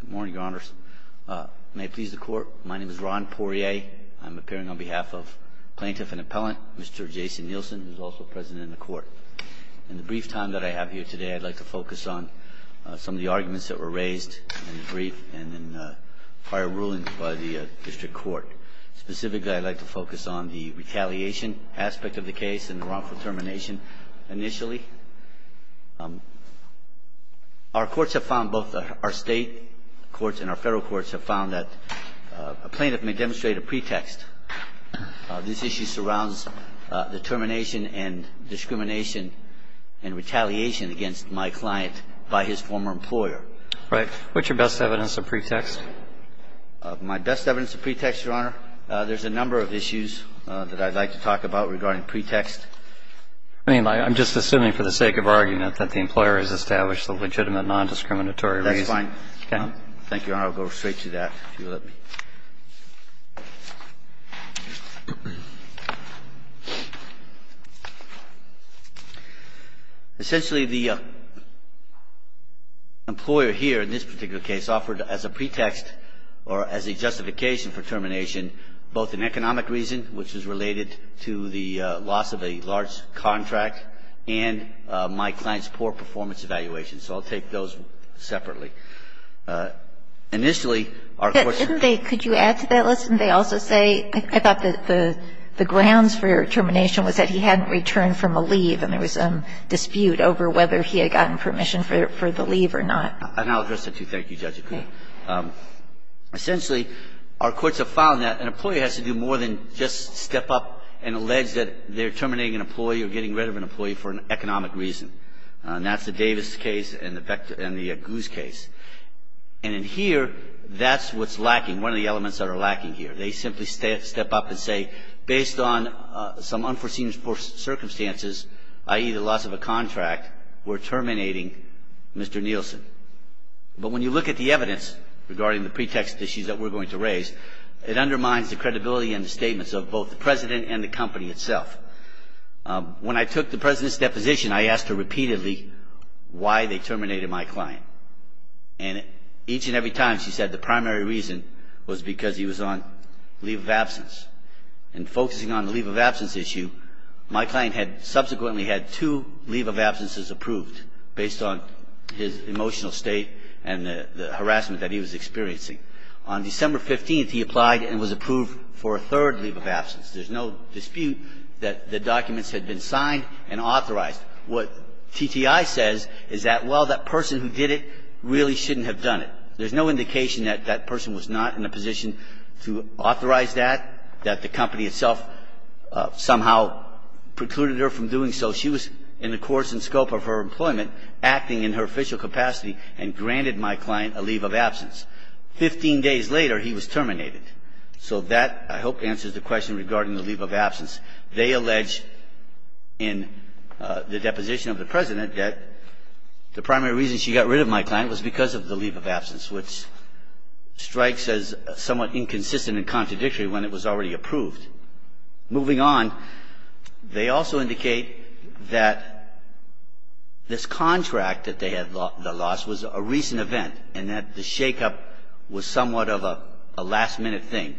Good morning, Your Honors. May it please the Court, my name is Ron Poirier. I'm appearing on behalf of Plaintiff and Appellant, Mr. Jason Nielsen, who is also President of the Court. In the brief time that I have here today, I'd like to focus on some of the arguments that were raised in the brief and in prior rulings by the District Court. Specifically, I'd like to focus on the retaliation aspect of the case and the wrongful termination initially. Our courts have found, both our State courts and our Federal courts have found that a plaintiff may demonstrate a pretext. This issue surrounds the termination and discrimination and retaliation against my client by his former employer. Right. What's your best evidence of pretext? My best evidence of pretext, Your Honor, there's a number of issues that I'd like to talk about regarding pretext. I mean, I'm just assuming for the sake of argument that the employer has established the legitimate nondiscriminatory reason. That's fine. Thank you, Your Honor. I'll go straight to that, if you'll let me. Essentially, the employer here in this particular case offered as a pretext or as a justification for termination both an economic reason, which is related to the loss of a large contract, and my client's poor performance evaluation. So I'll take those separately. Initially, our courts ---- Couldn't they add to that list? Couldn't they also say, I thought the grounds for termination was that he hadn't returned from a leave and there was a dispute over whether he had gotten permission for the leave or not? I'll address that, too. Thank you, Judge. Essentially, our courts have found that an employer has to do more than just step up and allege that they're terminating an employee or getting rid of an employee for an economic reason. And that's the Davis case and the Guz case. And in here, that's what's lacking, one of the elements that are lacking here. They simply step up and say, based on some unforeseen circumstances, i.e., the loss of a contract, we're terminating Mr. Nielsen. But when you look at the evidence regarding the pretext issues that we're going to raise, it undermines the credibility and the statements of both the President and the company itself. When I took the President's deposition, I asked her repeatedly why they terminated my client. And each and every time, she said the primary reason was because he was on leave of absence. And focusing on the leave of absence issue, my client had subsequently had two leave of absences approved based on his emotional state and the harassment that he was experiencing. On December 15th, he applied and was approved for a third leave of absence. There's no dispute that the documents had been signed and authorized. What TTI says is that, well, that person who did it really shouldn't have done it. There's no indication that that person was not in a position to authorize that, that the company itself somehow precluded her from doing so. She was in the course and scope of her employment, acting in her official capacity, and granted my client a leave of absence. Fifteen days later, he was terminated. So that, I hope, answers the question regarding the leave of absence. They allege in the deposition of the President that the primary reason she got rid of my client was because of the leave of absence, which strikes as somewhat inconsistent and contradictory when it was already approved. Moving on, they also indicate that this contract that they had lost was a recent event and that the shakeup was somewhat of a last-minute thing.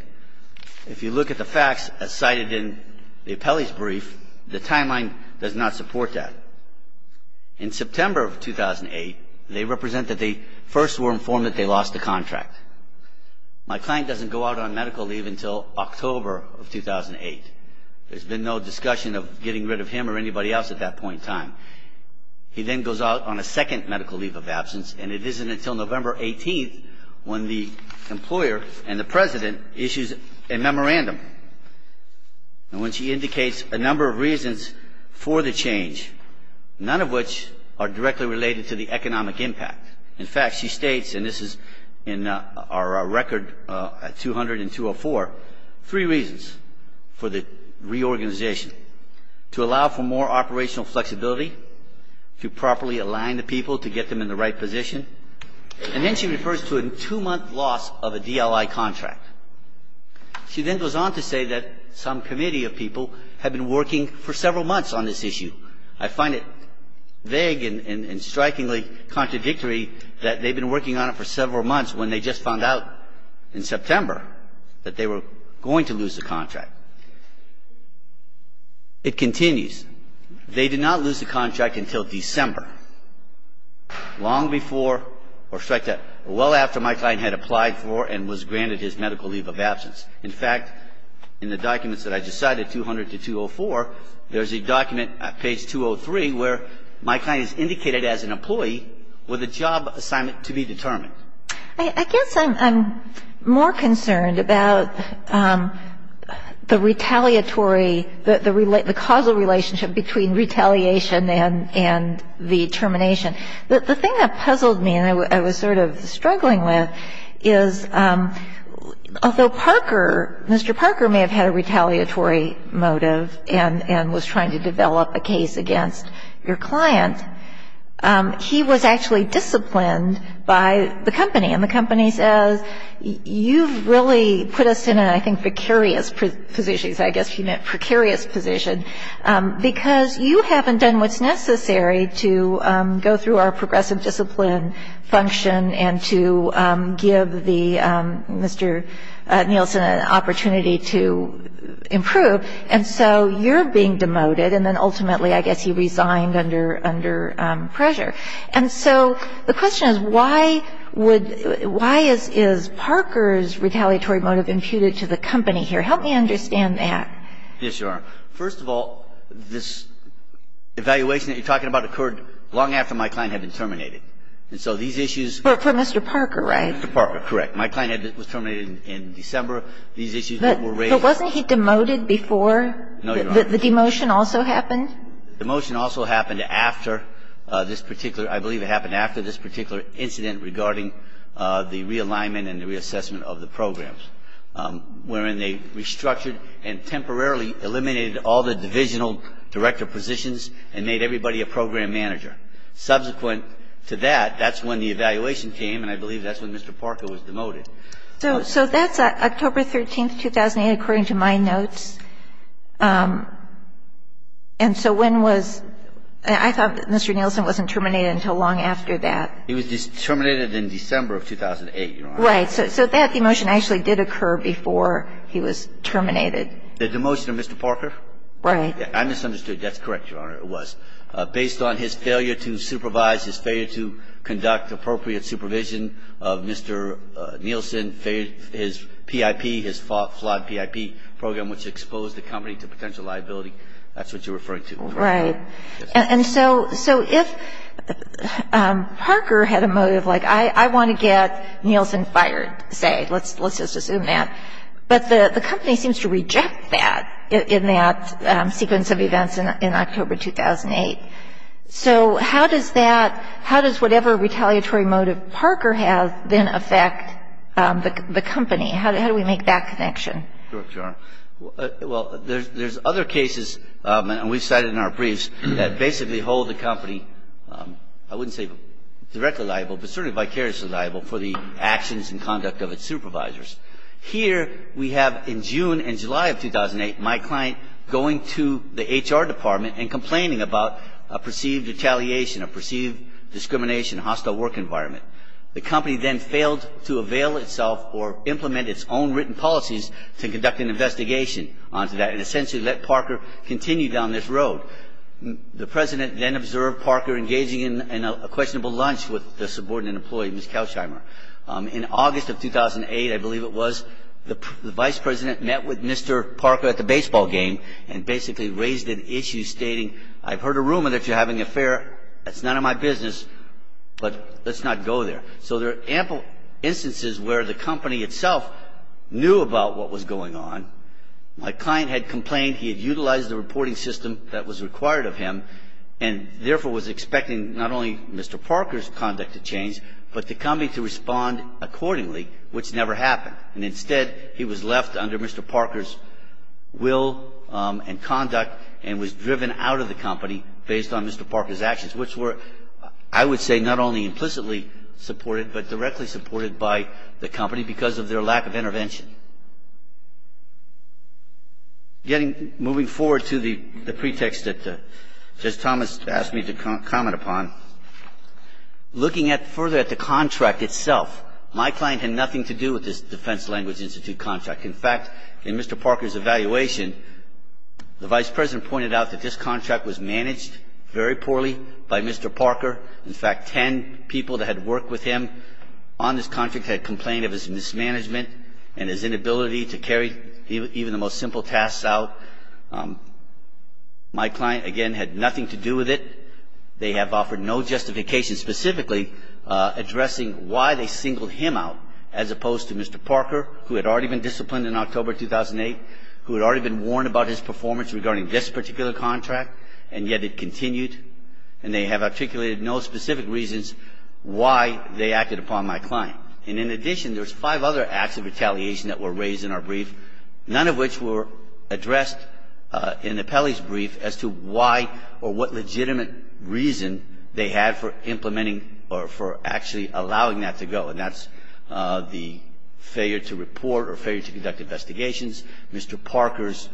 If you look at the facts as cited in the appellee's brief, the timeline does not support that. In September of 2008, they represent that they first were informed that they lost the contract. My client doesn't go out on medical leave until October of 2008. There's been no discussion of getting rid of him or anybody else at that point in time. He then goes out on a second medical leave of absence, and it isn't until November 18th when the employer and the President issues a memorandum. And when she indicates a number of reasons for the change, none of which are directly related to the economic impact. In fact, she states, and this is in our record at 200 and 204, three reasons for the reorganization, to allow for more operational flexibility, to properly align the people to get them in the right position, and then she refers to a two-month loss of a DLI contract. She then goes on to say that some committee of people had been working for several months on this issue. I find it vague and strikingly contradictory that they've been working on it for several months when they just found out in September that they were going to lose the contract. It continues. They did not lose the contract until December, long before or strike that, well after my client had applied for and was granted his medical leave of absence. In fact, in the documents that I just cited, 200 to 204, there's a document at page 203 where my client is indicated as an employee with a job assignment to be determined. I guess I'm more concerned about the retaliatory, the causal relationship between retaliation and the termination. The thing that puzzled me and I was sort of struggling with is, although Parker, Mr. Parker may have had a retaliatory motive and was trying to develop a case against your client, he was actually disciplined by the company. And the company says, you've really put us in a, I think, precarious position. I guess she meant precarious position. Because you haven't done what's necessary to go through our progressive discipline function and to give the, Mr. Nielsen, an opportunity to improve. And so you're being demoted. And then ultimately, I guess, he resigned under pressure. And so the question is, why is Parker's retaliatory motive imputed to the company here? Help me understand that. Yes, Your Honor. First of all, this evaluation that you're talking about occurred long after my client had been terminated. And so these issues ---- But for Mr. Parker, right? Mr. Parker, correct. My client was terminated in December. These issues that were raised ---- But wasn't he demoted before? No, Your Honor. The demotion also happened? The demotion also happened after this particular ---- I believe it happened after this particular incident regarding the realignment and reassessment of the programs, wherein they restructured and temporarily eliminated all the divisional director positions and made everybody a program manager. Subsequent to that, that's when the evaluation came. And I believe that's when Mr. Parker was demoted. So that's October 13th, 2008, according to my notes. And so when was ---- I thought that Mr. Nielsen wasn't terminated until long after that. He was terminated in December of 2008, Your Honor. So that demotion actually did occur before he was terminated. The demotion of Mr. Parker? Right. I misunderstood. That's correct, Your Honor, it was. Based on his failure to supervise, his failure to conduct appropriate supervision of Mr. Nielsen, his PIP, his flawed PIP program, which exposed the company to potential liability, that's what you're referring to. Right. And so if Parker had a motive, like I want to get Nielsen fired, say, let's just assume that. But the company seems to reject that in that sequence of events in October 2008. So how does that ---- how does whatever retaliatory motive Parker has then affect the company? How do we make that connection? Sure, Your Honor. Well, there's other cases, and we've cited in our briefs, that basically hold the company, I wouldn't say directly liable, but certainly vicariously liable for the actions and conduct of its supervisors. Here we have in June and July of 2008 my client going to the HR department and complaining about a perceived retaliation, a perceived discrimination, a hostile work environment. The company then failed to avail itself or implement its own written policies to conduct an investigation onto that, and essentially let Parker continue down this road. The President then observed Parker engaging in a questionable lunch with the subordinate employee, Ms. Kaushimer. In August of 2008, I believe it was, the Vice President met with Mr. Parker at the baseball game and basically raised an issue stating, I've heard a rumor that you're having an affair. That's none of my business, but let's not go there. So there are ample instances where the company itself knew about what was going on. My client had complained he had utilized the reporting system that was required of him and therefore was expecting not only Mr. Parker's conduct to change, but to come in to respond accordingly, which never happened. And instead, he was left under Mr. Parker's will and conduct and was driven out of the company based on Mr. Parker's actions, which were, I would say, not only implicitly supported, but directly supported by the company because of their lack of intervention. Moving forward to the pretext that Justice Thomas asked me to comment upon, looking further at the contract itself, my client had nothing to do with this Defense Language Institute contract. In fact, in Mr. Parker's evaluation, the Vice President pointed out that this contract was managed very poorly by Mr. Parker. In fact, ten people that had worked with him on this contract had complained of his mismanagement and his inability to carry even the most simple tasks out. My client, again, had nothing to do with it. They have offered no justification specifically addressing why they singled him out as opposed to Mr. Parker, who had already been disciplined in October 2008, who had already been warned about his performance regarding this particular contract, and yet it continued. And they have articulated no specific reasons why they acted upon my client. And in addition, there's five other acts of retaliation that were raised in our brief, none of which were addressed in the Pele's brief as to why or what legitimate reason they had for implementing or for actually allowing that to go. And that's the failure to report or failure to conduct investigations, Mr. Parker's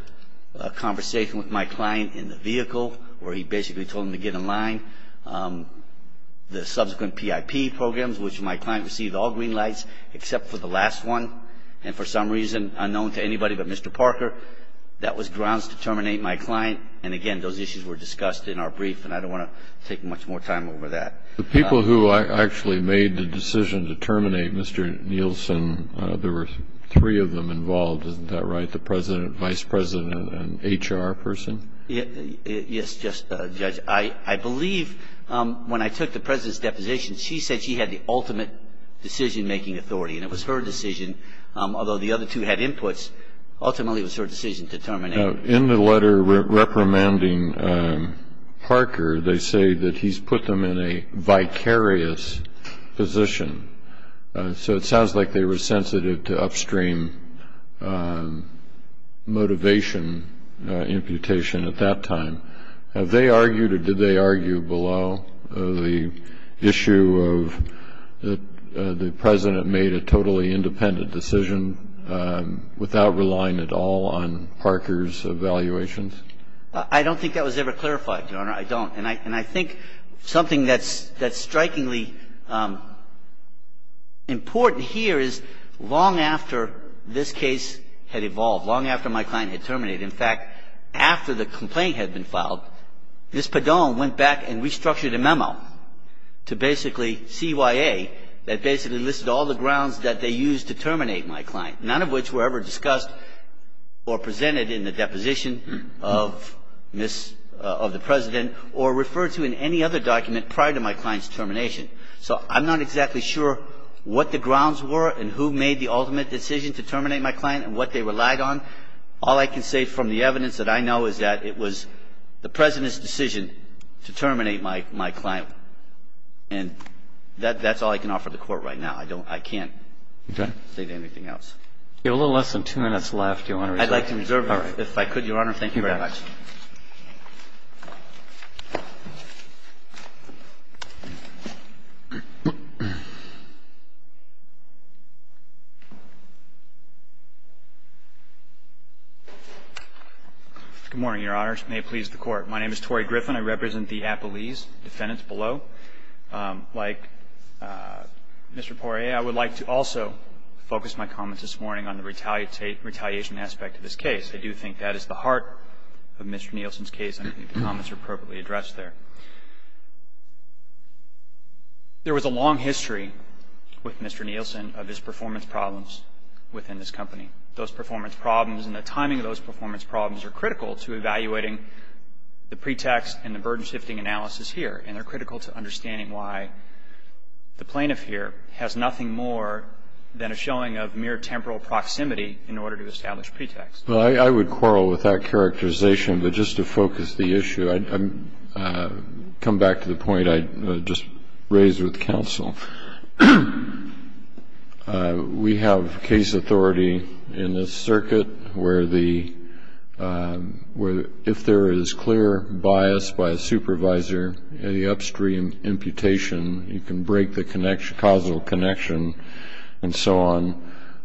conversation with my client in the vehicle, where he basically told him to get in line, the subsequent PIP programs, which my client received all green lights except for the last one, and for some reason unknown to anybody but Mr. Parker. That was grounds to terminate my client. And, again, those issues were discussed in our brief, and I don't want to take much more time over that. The people who actually made the decision to terminate Mr. Nielsen, there were three of them involved, isn't that right, the President, Vice President, and HR person? Yes, Judge. I believe when I took the President's deposition, she said she had the ultimate decision-making authority, and it was her decision, although the other two had inputs, ultimately it was her decision to terminate. In the letter reprimanding Parker, they say that he's put them in a vicarious position. So it sounds like they were sensitive to upstream motivation imputation at that time. Have they argued or did they argue below the issue of the President made a totally independent decision without relying at all on Parker's evaluations? I don't think that was ever clarified, Your Honor, I don't. And I think something that's strikingly important here is long after this case had evolved, long after my client had terminated, in fact, after the complaint had been filed, Ms. Padone went back and restructured a memo to basically CYA that basically listed all the grounds that they used to terminate my client, none of which were ever discussed or presented in the deposition of Ms. Padone, and that's what I'm talking about. I'm not talking about the evidence that I have in the case of the President or referred to in any other document prior to my client's termination. So I'm not exactly sure what the grounds were and who made the ultimate decision to terminate my client and what they relied on. All I can say from the evidence that I know is that it was the President's decision to terminate my client. And that's all I can offer the Court right now. I don't – I can't say anything else. If you have a little less than two minutes left, do you want to reserve it? I'd like to reserve it if I could, Your Honor. Thank you very much. Good morning, Your Honors. May it please the Court. My name is Torrey Griffin. I represent the Appalese defendants below. Like Mr. Poirier, I would like to also focus my comments this morning on the retaliation aspect of this case. I do think that is the heart of Mr. Nielsen's case, and I think the comments are appropriately addressed there. There was a long history with Mr. Nielsen of his performance problems within this company. Those performance problems and the timing of those performance problems are critical to evaluating the pretext and the burden-shifting analysis here, and they're critical to understanding why the plaintiff here has nothing more than a showing of mere temporal proximity in order to establish pretext. Well, I would quarrel with that characterization. But just to focus the issue, I'd come back to the point I just raised with counsel. We have case authority in this circuit where if there is clear bias by a supervisor, any upstream imputation, you can break the causal connection and so on.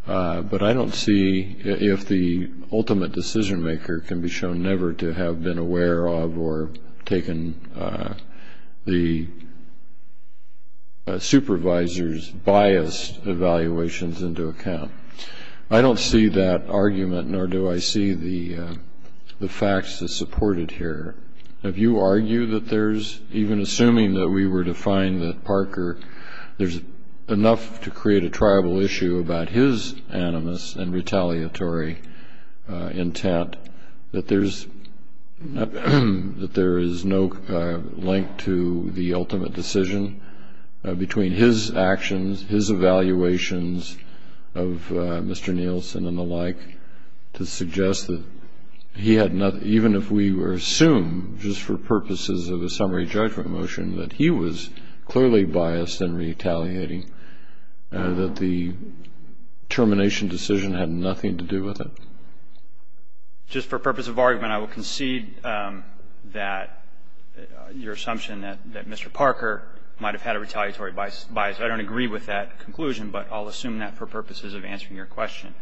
But I don't see if the ultimate decision-maker can be shown never to have been aware of or taken the supervisor's biased evaluations into account. I don't see that argument, nor do I see the facts that support it here. If you argue that there's, even assuming that we were to find that Parker, there's enough to create a tribal issue about his animus and retaliatory intent, that there is no link to the ultimate decision between his actions, his evaluations of Mr. Nielsen and the like, to suggest that he had nothing, even if we were to assume, just for purposes of a summary judgment motion, that he was clearly biased and retaliating, that the termination decision had nothing to do with it? Just for purpose of argument, I will concede that your assumption that Mr. Parker might have had a retaliatory bias, I don't agree with that conclusion, but I'll assume that for purposes of answering your question.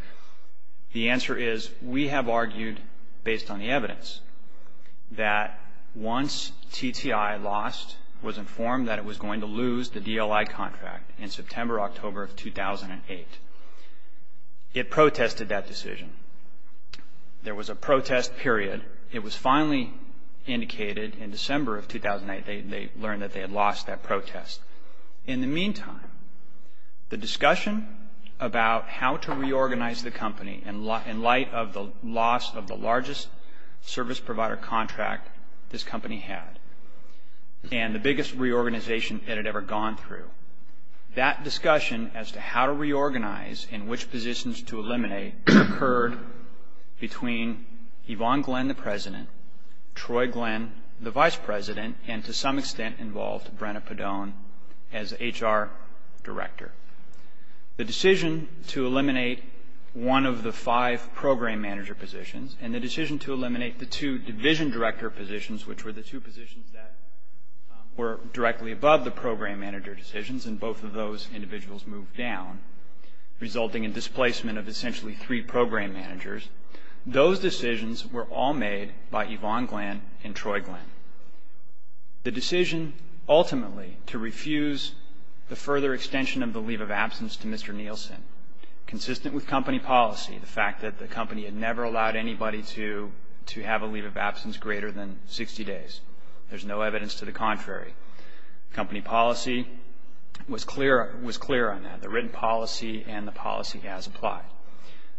The answer is, we have argued, based on the evidence, that once TTI lost, was informed that it was going to lose the DLI contract in September-October of 2008. It protested that decision. There was a protest period. It was finally indicated in December of 2008, they learned that they had lost that protest. In the meantime, the discussion about how to reorganize the company, in light of the loss of the largest service provider contract this company had, and the biggest reorganization it had ever gone through, that discussion as to how to reorganize and which positions to eliminate, occurred between Yvonne Glenn, the President, Troy Glenn, the Vice President, and to some extent involved Brenna Padone as HR Director. The decision to eliminate one of the five program manager positions, and the decision to eliminate the two division director positions, which were the two positions that were directly above the program manager decisions, and both of those individuals moved down, resulting in displacement of essentially three program managers, those decisions were all made by Yvonne Glenn and Troy Glenn. The decision ultimately to refuse the further extension of the leave of absence to Mr. Nielsen, consistent with company policy, the fact that the company had never allowed anybody to have a leave of absence greater than 60 days. There's no evidence to the contrary. Company policy was clear on that. The written policy and the policy as applied.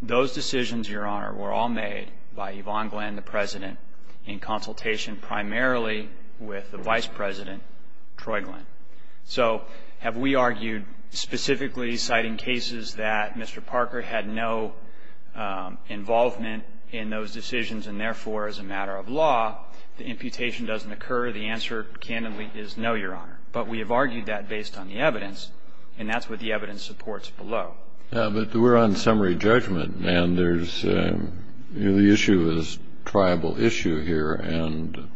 Those decisions, Your Honor, were all made by Yvonne Glenn, the President, in consultation primarily with the Vice President, Troy Glenn. So have we argued specifically citing cases that Mr. Parker had no involvement in those decisions, and therefore, as a matter of law, the imputation doesn't occur? The answer, candidly, is no, Your Honor. But we have argued that based on the evidence, and that's what the evidence supports below. Yeah, but we're on summary judgment, and the issue is a tribal issue here. And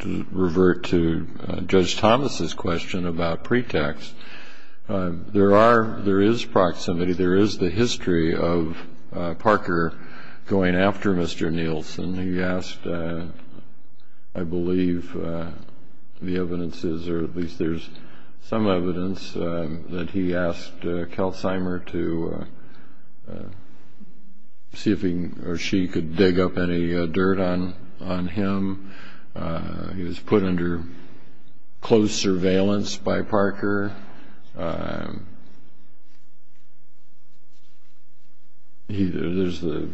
to revert to Judge Thomas's question about pretext, there is proximity, there is the history of Parker going after Mr. Nielsen. He asked, I believe the evidence is, or at least there's some evidence, that he asked Kelseymer to see if he or she could dig up any dirt on him. He was put under close surveillance by Parker. There's the,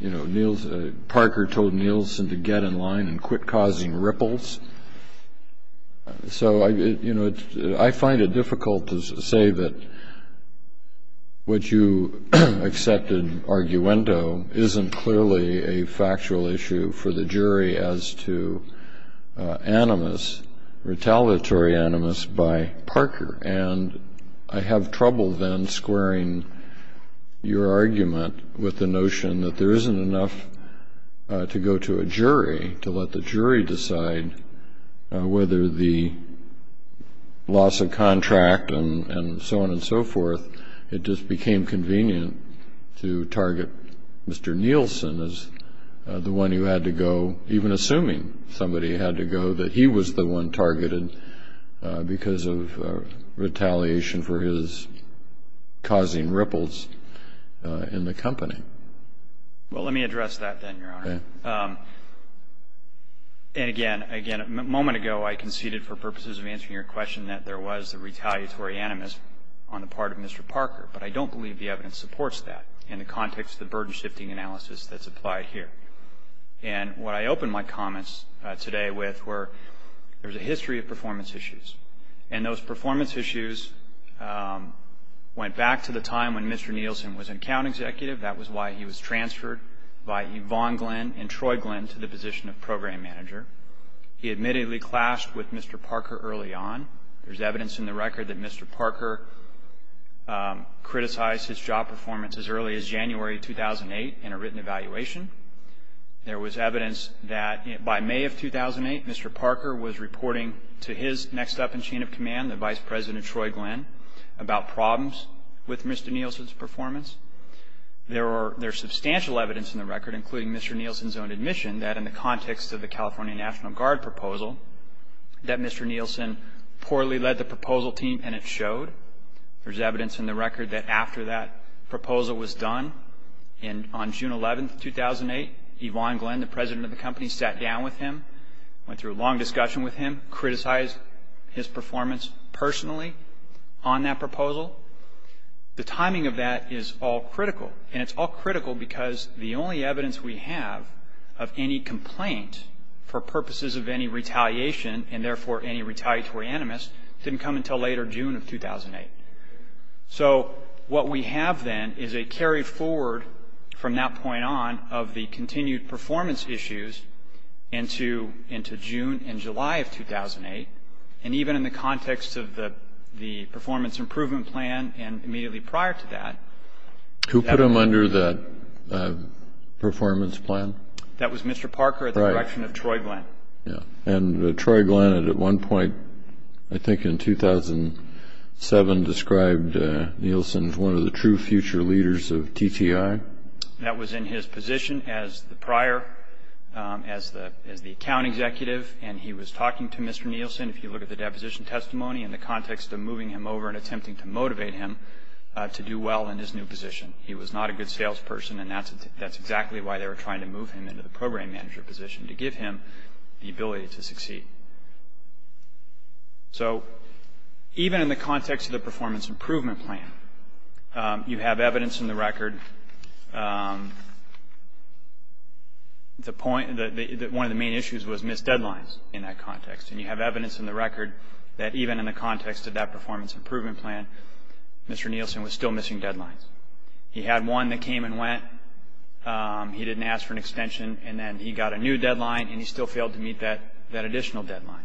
you know, Parker told Nielsen to get in line and quit causing ripples. So, you know, I find it difficult to say that what you accepted arguendo isn't clearly a factual issue for the jury as to animus, retaliatory animus, by Parker, and I have trouble then squaring your argument with the notion that there isn't enough to go to a jury to let the jury decide whether the loss of contract and so on and so forth, it just became convenient to target Mr. Nielsen as the one who had to go, even assuming somebody had to go, that he was the one targeted because of retaliation for his causing ripples in the company. Well, let me address that then, Your Honor. And again, a moment ago I conceded for purposes of answering your question that there was a retaliatory animus on the part of Mr. Parker, but I don't believe the evidence supports that in the context of the burden-shifting analysis that's applied here. And what I opened my comments today with were there's a history of performance issues, and those performance issues went back to the time when Mr. Nielsen was account executive. That was why he was transferred by Yvonne Glenn and Troy Glenn to the position of program manager. He admittedly clashed with Mr. Parker early on. There's evidence in the record that Mr. Parker criticized his job performance as early as January 2008 in a written evaluation. There was evidence that by May of 2008, Mr. Parker was reporting to his next up in chain of command, the Vice President Troy Glenn, about problems with Mr. Nielsen's performance. There's substantial evidence in the record, including Mr. Nielsen's own admission, that in the context of the California National Guard proposal, that Mr. Nielsen poorly led the proposal team, and it showed. There's evidence in the record that after that proposal was done, and on June 11, 2008, Yvonne Glenn, the president of the company, sat down with him, went through a long discussion with him, criticized his performance personally on that proposal. The timing of that is all critical, and it's all critical because the only evidence we have of any complaint for purposes of any retaliation, and therefore any retaliatory animus, didn't come until later June of 2008. So what we have then is a carry forward from that point on of the continued performance issues into June and July of 2008, and even in the context of the performance improvement plan and immediately prior to that. Who put him under the performance plan? That was Mr. Parker at the direction of Troy Glenn. And Troy Glenn at one point, I think in 2007, described Nielsen as one of the true future leaders of TTI? That was in his position as the prior, as the account executive, and he was talking to Mr. Nielsen, if you look at the deposition testimony, in the context of moving him over and attempting to motivate him to do well in his new position. He was not a good salesperson, and that's exactly why they were trying to move him into the program manager position, to give him the ability to succeed. So even in the context of the performance improvement plan, you have evidence in the record that one of the main issues was missed deadlines in that context, and you have evidence in the record that even in the context of that performance improvement plan, Mr. Nielsen was still missing deadlines. He had one that came and went. He didn't ask for an extension, and then he got a new deadline, and he still failed to meet that additional deadline.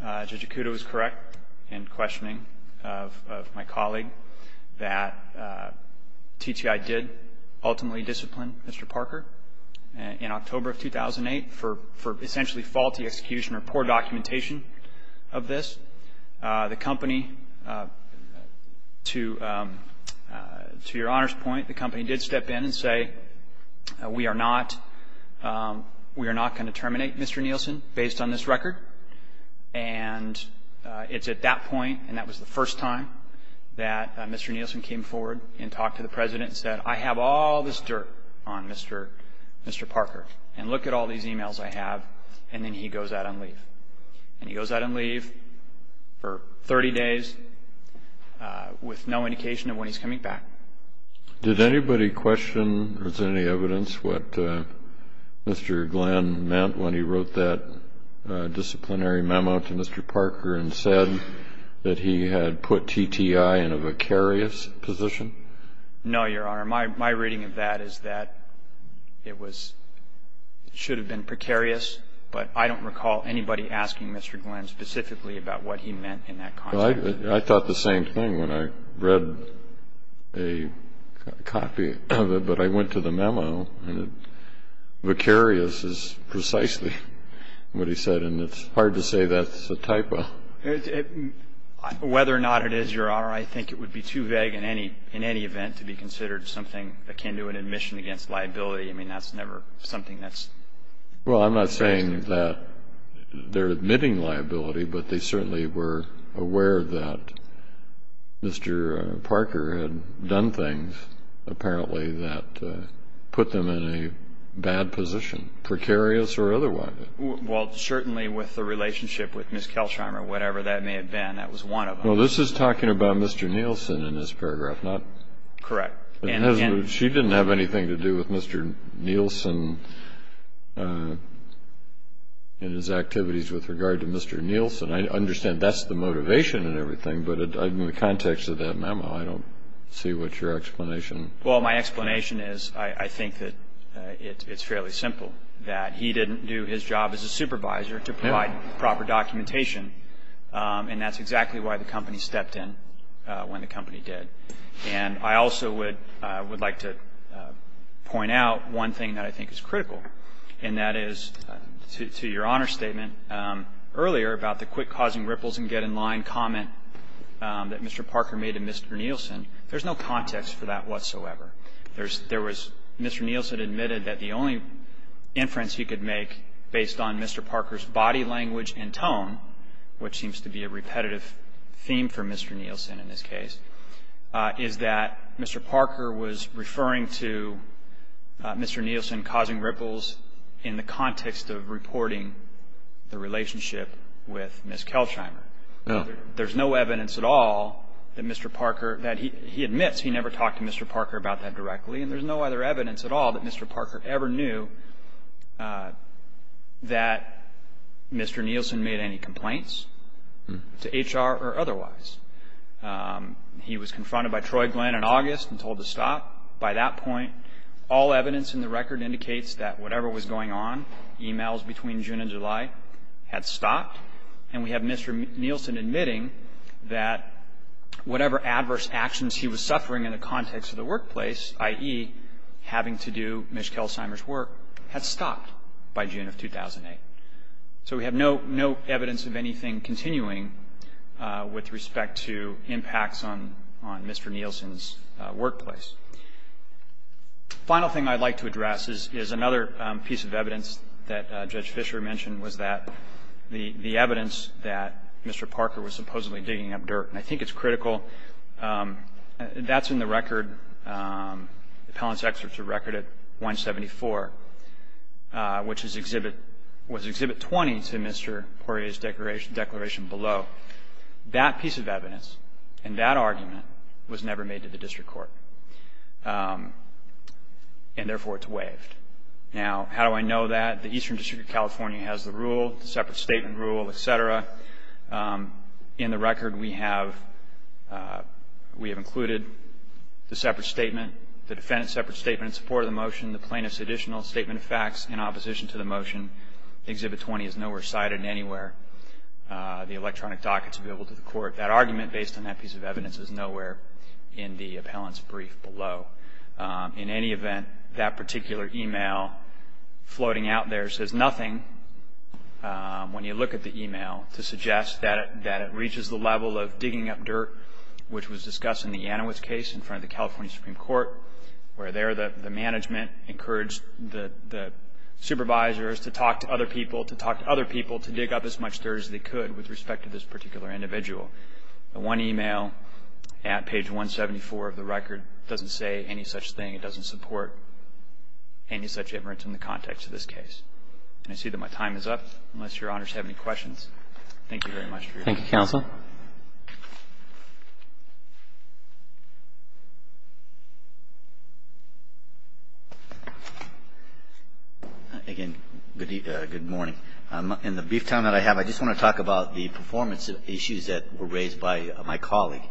Judge Ikuda was correct in questioning of my colleague that TTI did ultimately discipline Mr. Parker in October of 2008 for essentially faulty execution or poor documentation of this. The company, to your Honor's point, the company did step in and say, we are not going to terminate Mr. Nielsen based on this record. And it's at that point, and that was the first time, that Mr. Nielsen came forward and talked to the President and said, I have all this dirt on Mr. Parker, and look at all these e-mails I have. And then he goes out on leave. And he goes out on leave for 30 days with no indication of when he's coming back. Did anybody question, or is there any evidence, what Mr. Glenn meant when he wrote that disciplinary memo to Mr. Parker and said that he had put TTI in a precarious position? No, Your Honor. My reading of that is that it should have been precarious, but I don't recall anybody asking Mr. Glenn specifically about what he meant in that context. I thought the same thing when I read a copy of it. But I went to the memo, and precarious is precisely what he said. And it's hard to say that's a typo. Whether or not it is, Your Honor, I think it would be too vague in any event to be considered something akin to an admission against liability. Well, I'm not saying that they're admitting liability, but they certainly were aware that Mr. Parker had done things, apparently, that put them in a bad position, precarious or otherwise. Well, certainly with the relationship with Ms. Keltreimer, whatever that may have been, that was one of them. Well, this is talking about Mr. Nielsen in this paragraph, not... Correct. She didn't have anything to do with Mr. Nielsen and his activities with regard to Mr. Nielsen. I understand that's the motivation and everything, but in the context of that memo, I don't see what your explanation... Well, my explanation is I think that it's fairly simple, that he didn't do his job as a supervisor to provide proper documentation, and that's exactly why the company stepped in when the company did. And I also would like to point out one thing that I think is critical, and that is, to your Honor's statement earlier about the quick-causing ripples-and-get-in-line comment that Mr. Parker made to Mr. Nielsen, there's no context for that whatsoever. There was Mr. Nielsen admitted that the only inference he could make based on Mr. Parker's body language and tone, which seems to be a repetitive theme for Mr. Nielsen in this case, is that Mr. Parker was referring to Mr. Nielsen causing ripples in the context of reporting the relationship with Ms. Kelchheimer. There's no evidence at all that Mr. Parker, that he admits he never talked to Mr. Parker about that directly, and there's no other evidence at all that Mr. Parker ever knew that Mr. Nielsen made any complaints to HR or otherwise. He was confronted by Troy Glenn in August and told to stop. By that point, all evidence in the record indicates that whatever was going on, e-mails between June and July, had stopped, and we have Mr. Nielsen admitting that whatever adverse actions he was suffering in the context of the workplace, i.e., having to do Ms. Kelchheimer's work, had stopped by June of 2008. So we have no evidence of anything continuing with respect to impacts on Mr. Nielsen's workplace. The final thing I'd like to address is another piece of evidence that Judge Fisher mentioned, was that the evidence that Mr. Parker was supposedly digging up dirt, and I think it's in the record, Appellant's Excerpt to Record at 174, which was Exhibit 20 to Mr. Poirier's declaration below, that piece of evidence and that argument was never made to the district court, and therefore it's waived. Now, how do I know that? The Eastern District of California has the rule, the separate statement rule, et cetera. In the record, we have included the separate statement, the defendant's separate statement in support of the motion, the plaintiff's additional statement of facts in opposition to the motion. Exhibit 20 is nowhere cited anywhere. The electronic docket's available to the court. That argument based on that piece of evidence is nowhere in the appellant's brief below. In any event, that particular e-mail floating out there says nothing. When you look at the e-mail to suggest that it reaches the level of digging up dirt, which was discussed in the Yanowitz case in front of the California Supreme Court, where there the management encouraged the supervisors to talk to other people, to talk to other people to dig up as much dirt as they could with respect to this particular individual. One e-mail at page 174 of the record doesn't say any such thing. It doesn't support any such evidence in the context of this case. And I see that my time is up, unless Your Honors have any questions. Thank you very much. Thank you, Counsel. Again, good morning. In the brief time that I have, I just want to talk about the performance issues that were raised by my colleague.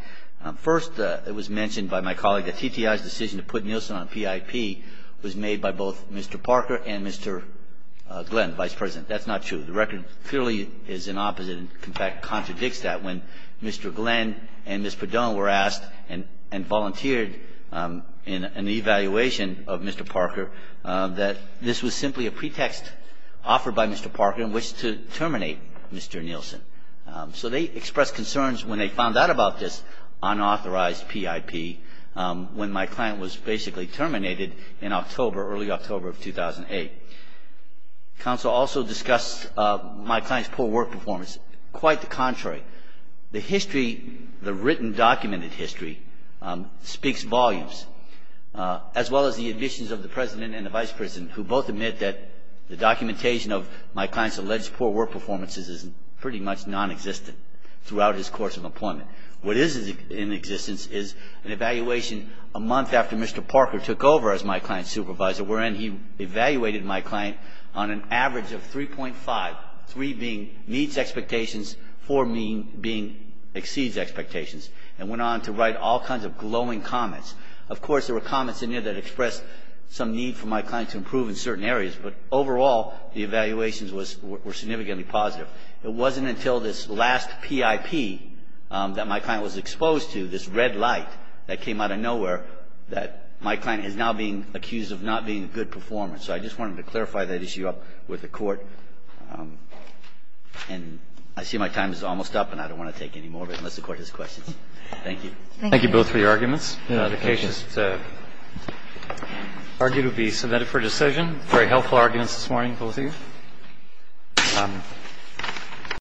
First, it was mentioned by my colleague that TTI's decision to put Nielsen on PIP was made by both Mr. Parker and Mr. Glenn, Vice President. That's not true. The record clearly is an opposite and, in fact, contradicts that. When Mr. Glenn and Ms. Padone were asked and volunteered in an evaluation of Mr. Parker, that this was simply a pretext offered by Mr. Parker in which to terminate Mr. Nielsen. So they expressed concerns when they found out about this unauthorized PIP when my client was basically terminated in October, early October of 2008. Counsel also discussed my client's poor work performance. Quite the contrary. The history, the written documented history, speaks volumes, as well as the admissions of the President and the Vice President who both admit that the documentation of my client's alleged poor work performances is pretty much nonexistent throughout his course of employment. What is in existence is an evaluation a month after Mr. Parker took over as my client's supervisor wherein he evaluated my client on an average of 3.5, 3 being needs expectations, 4 being exceeds expectations, and went on to write all kinds of glowing comments. Of course, there were comments in there that expressed some need for my client to improve in certain areas, but overall the evaluations were significantly positive. It wasn't until this last PIP that my client was exposed to, this red light that came out of nowhere, that my client is now being accused of not being a good performer. So I just wanted to clarify that issue up with the Court. And I see my time is almost up, and I don't want to take any more of it unless the Court has questions. Thank you. Thank you both for your arguments. The case is argued to be submitted for decision. Very helpful arguments this morning, both of you.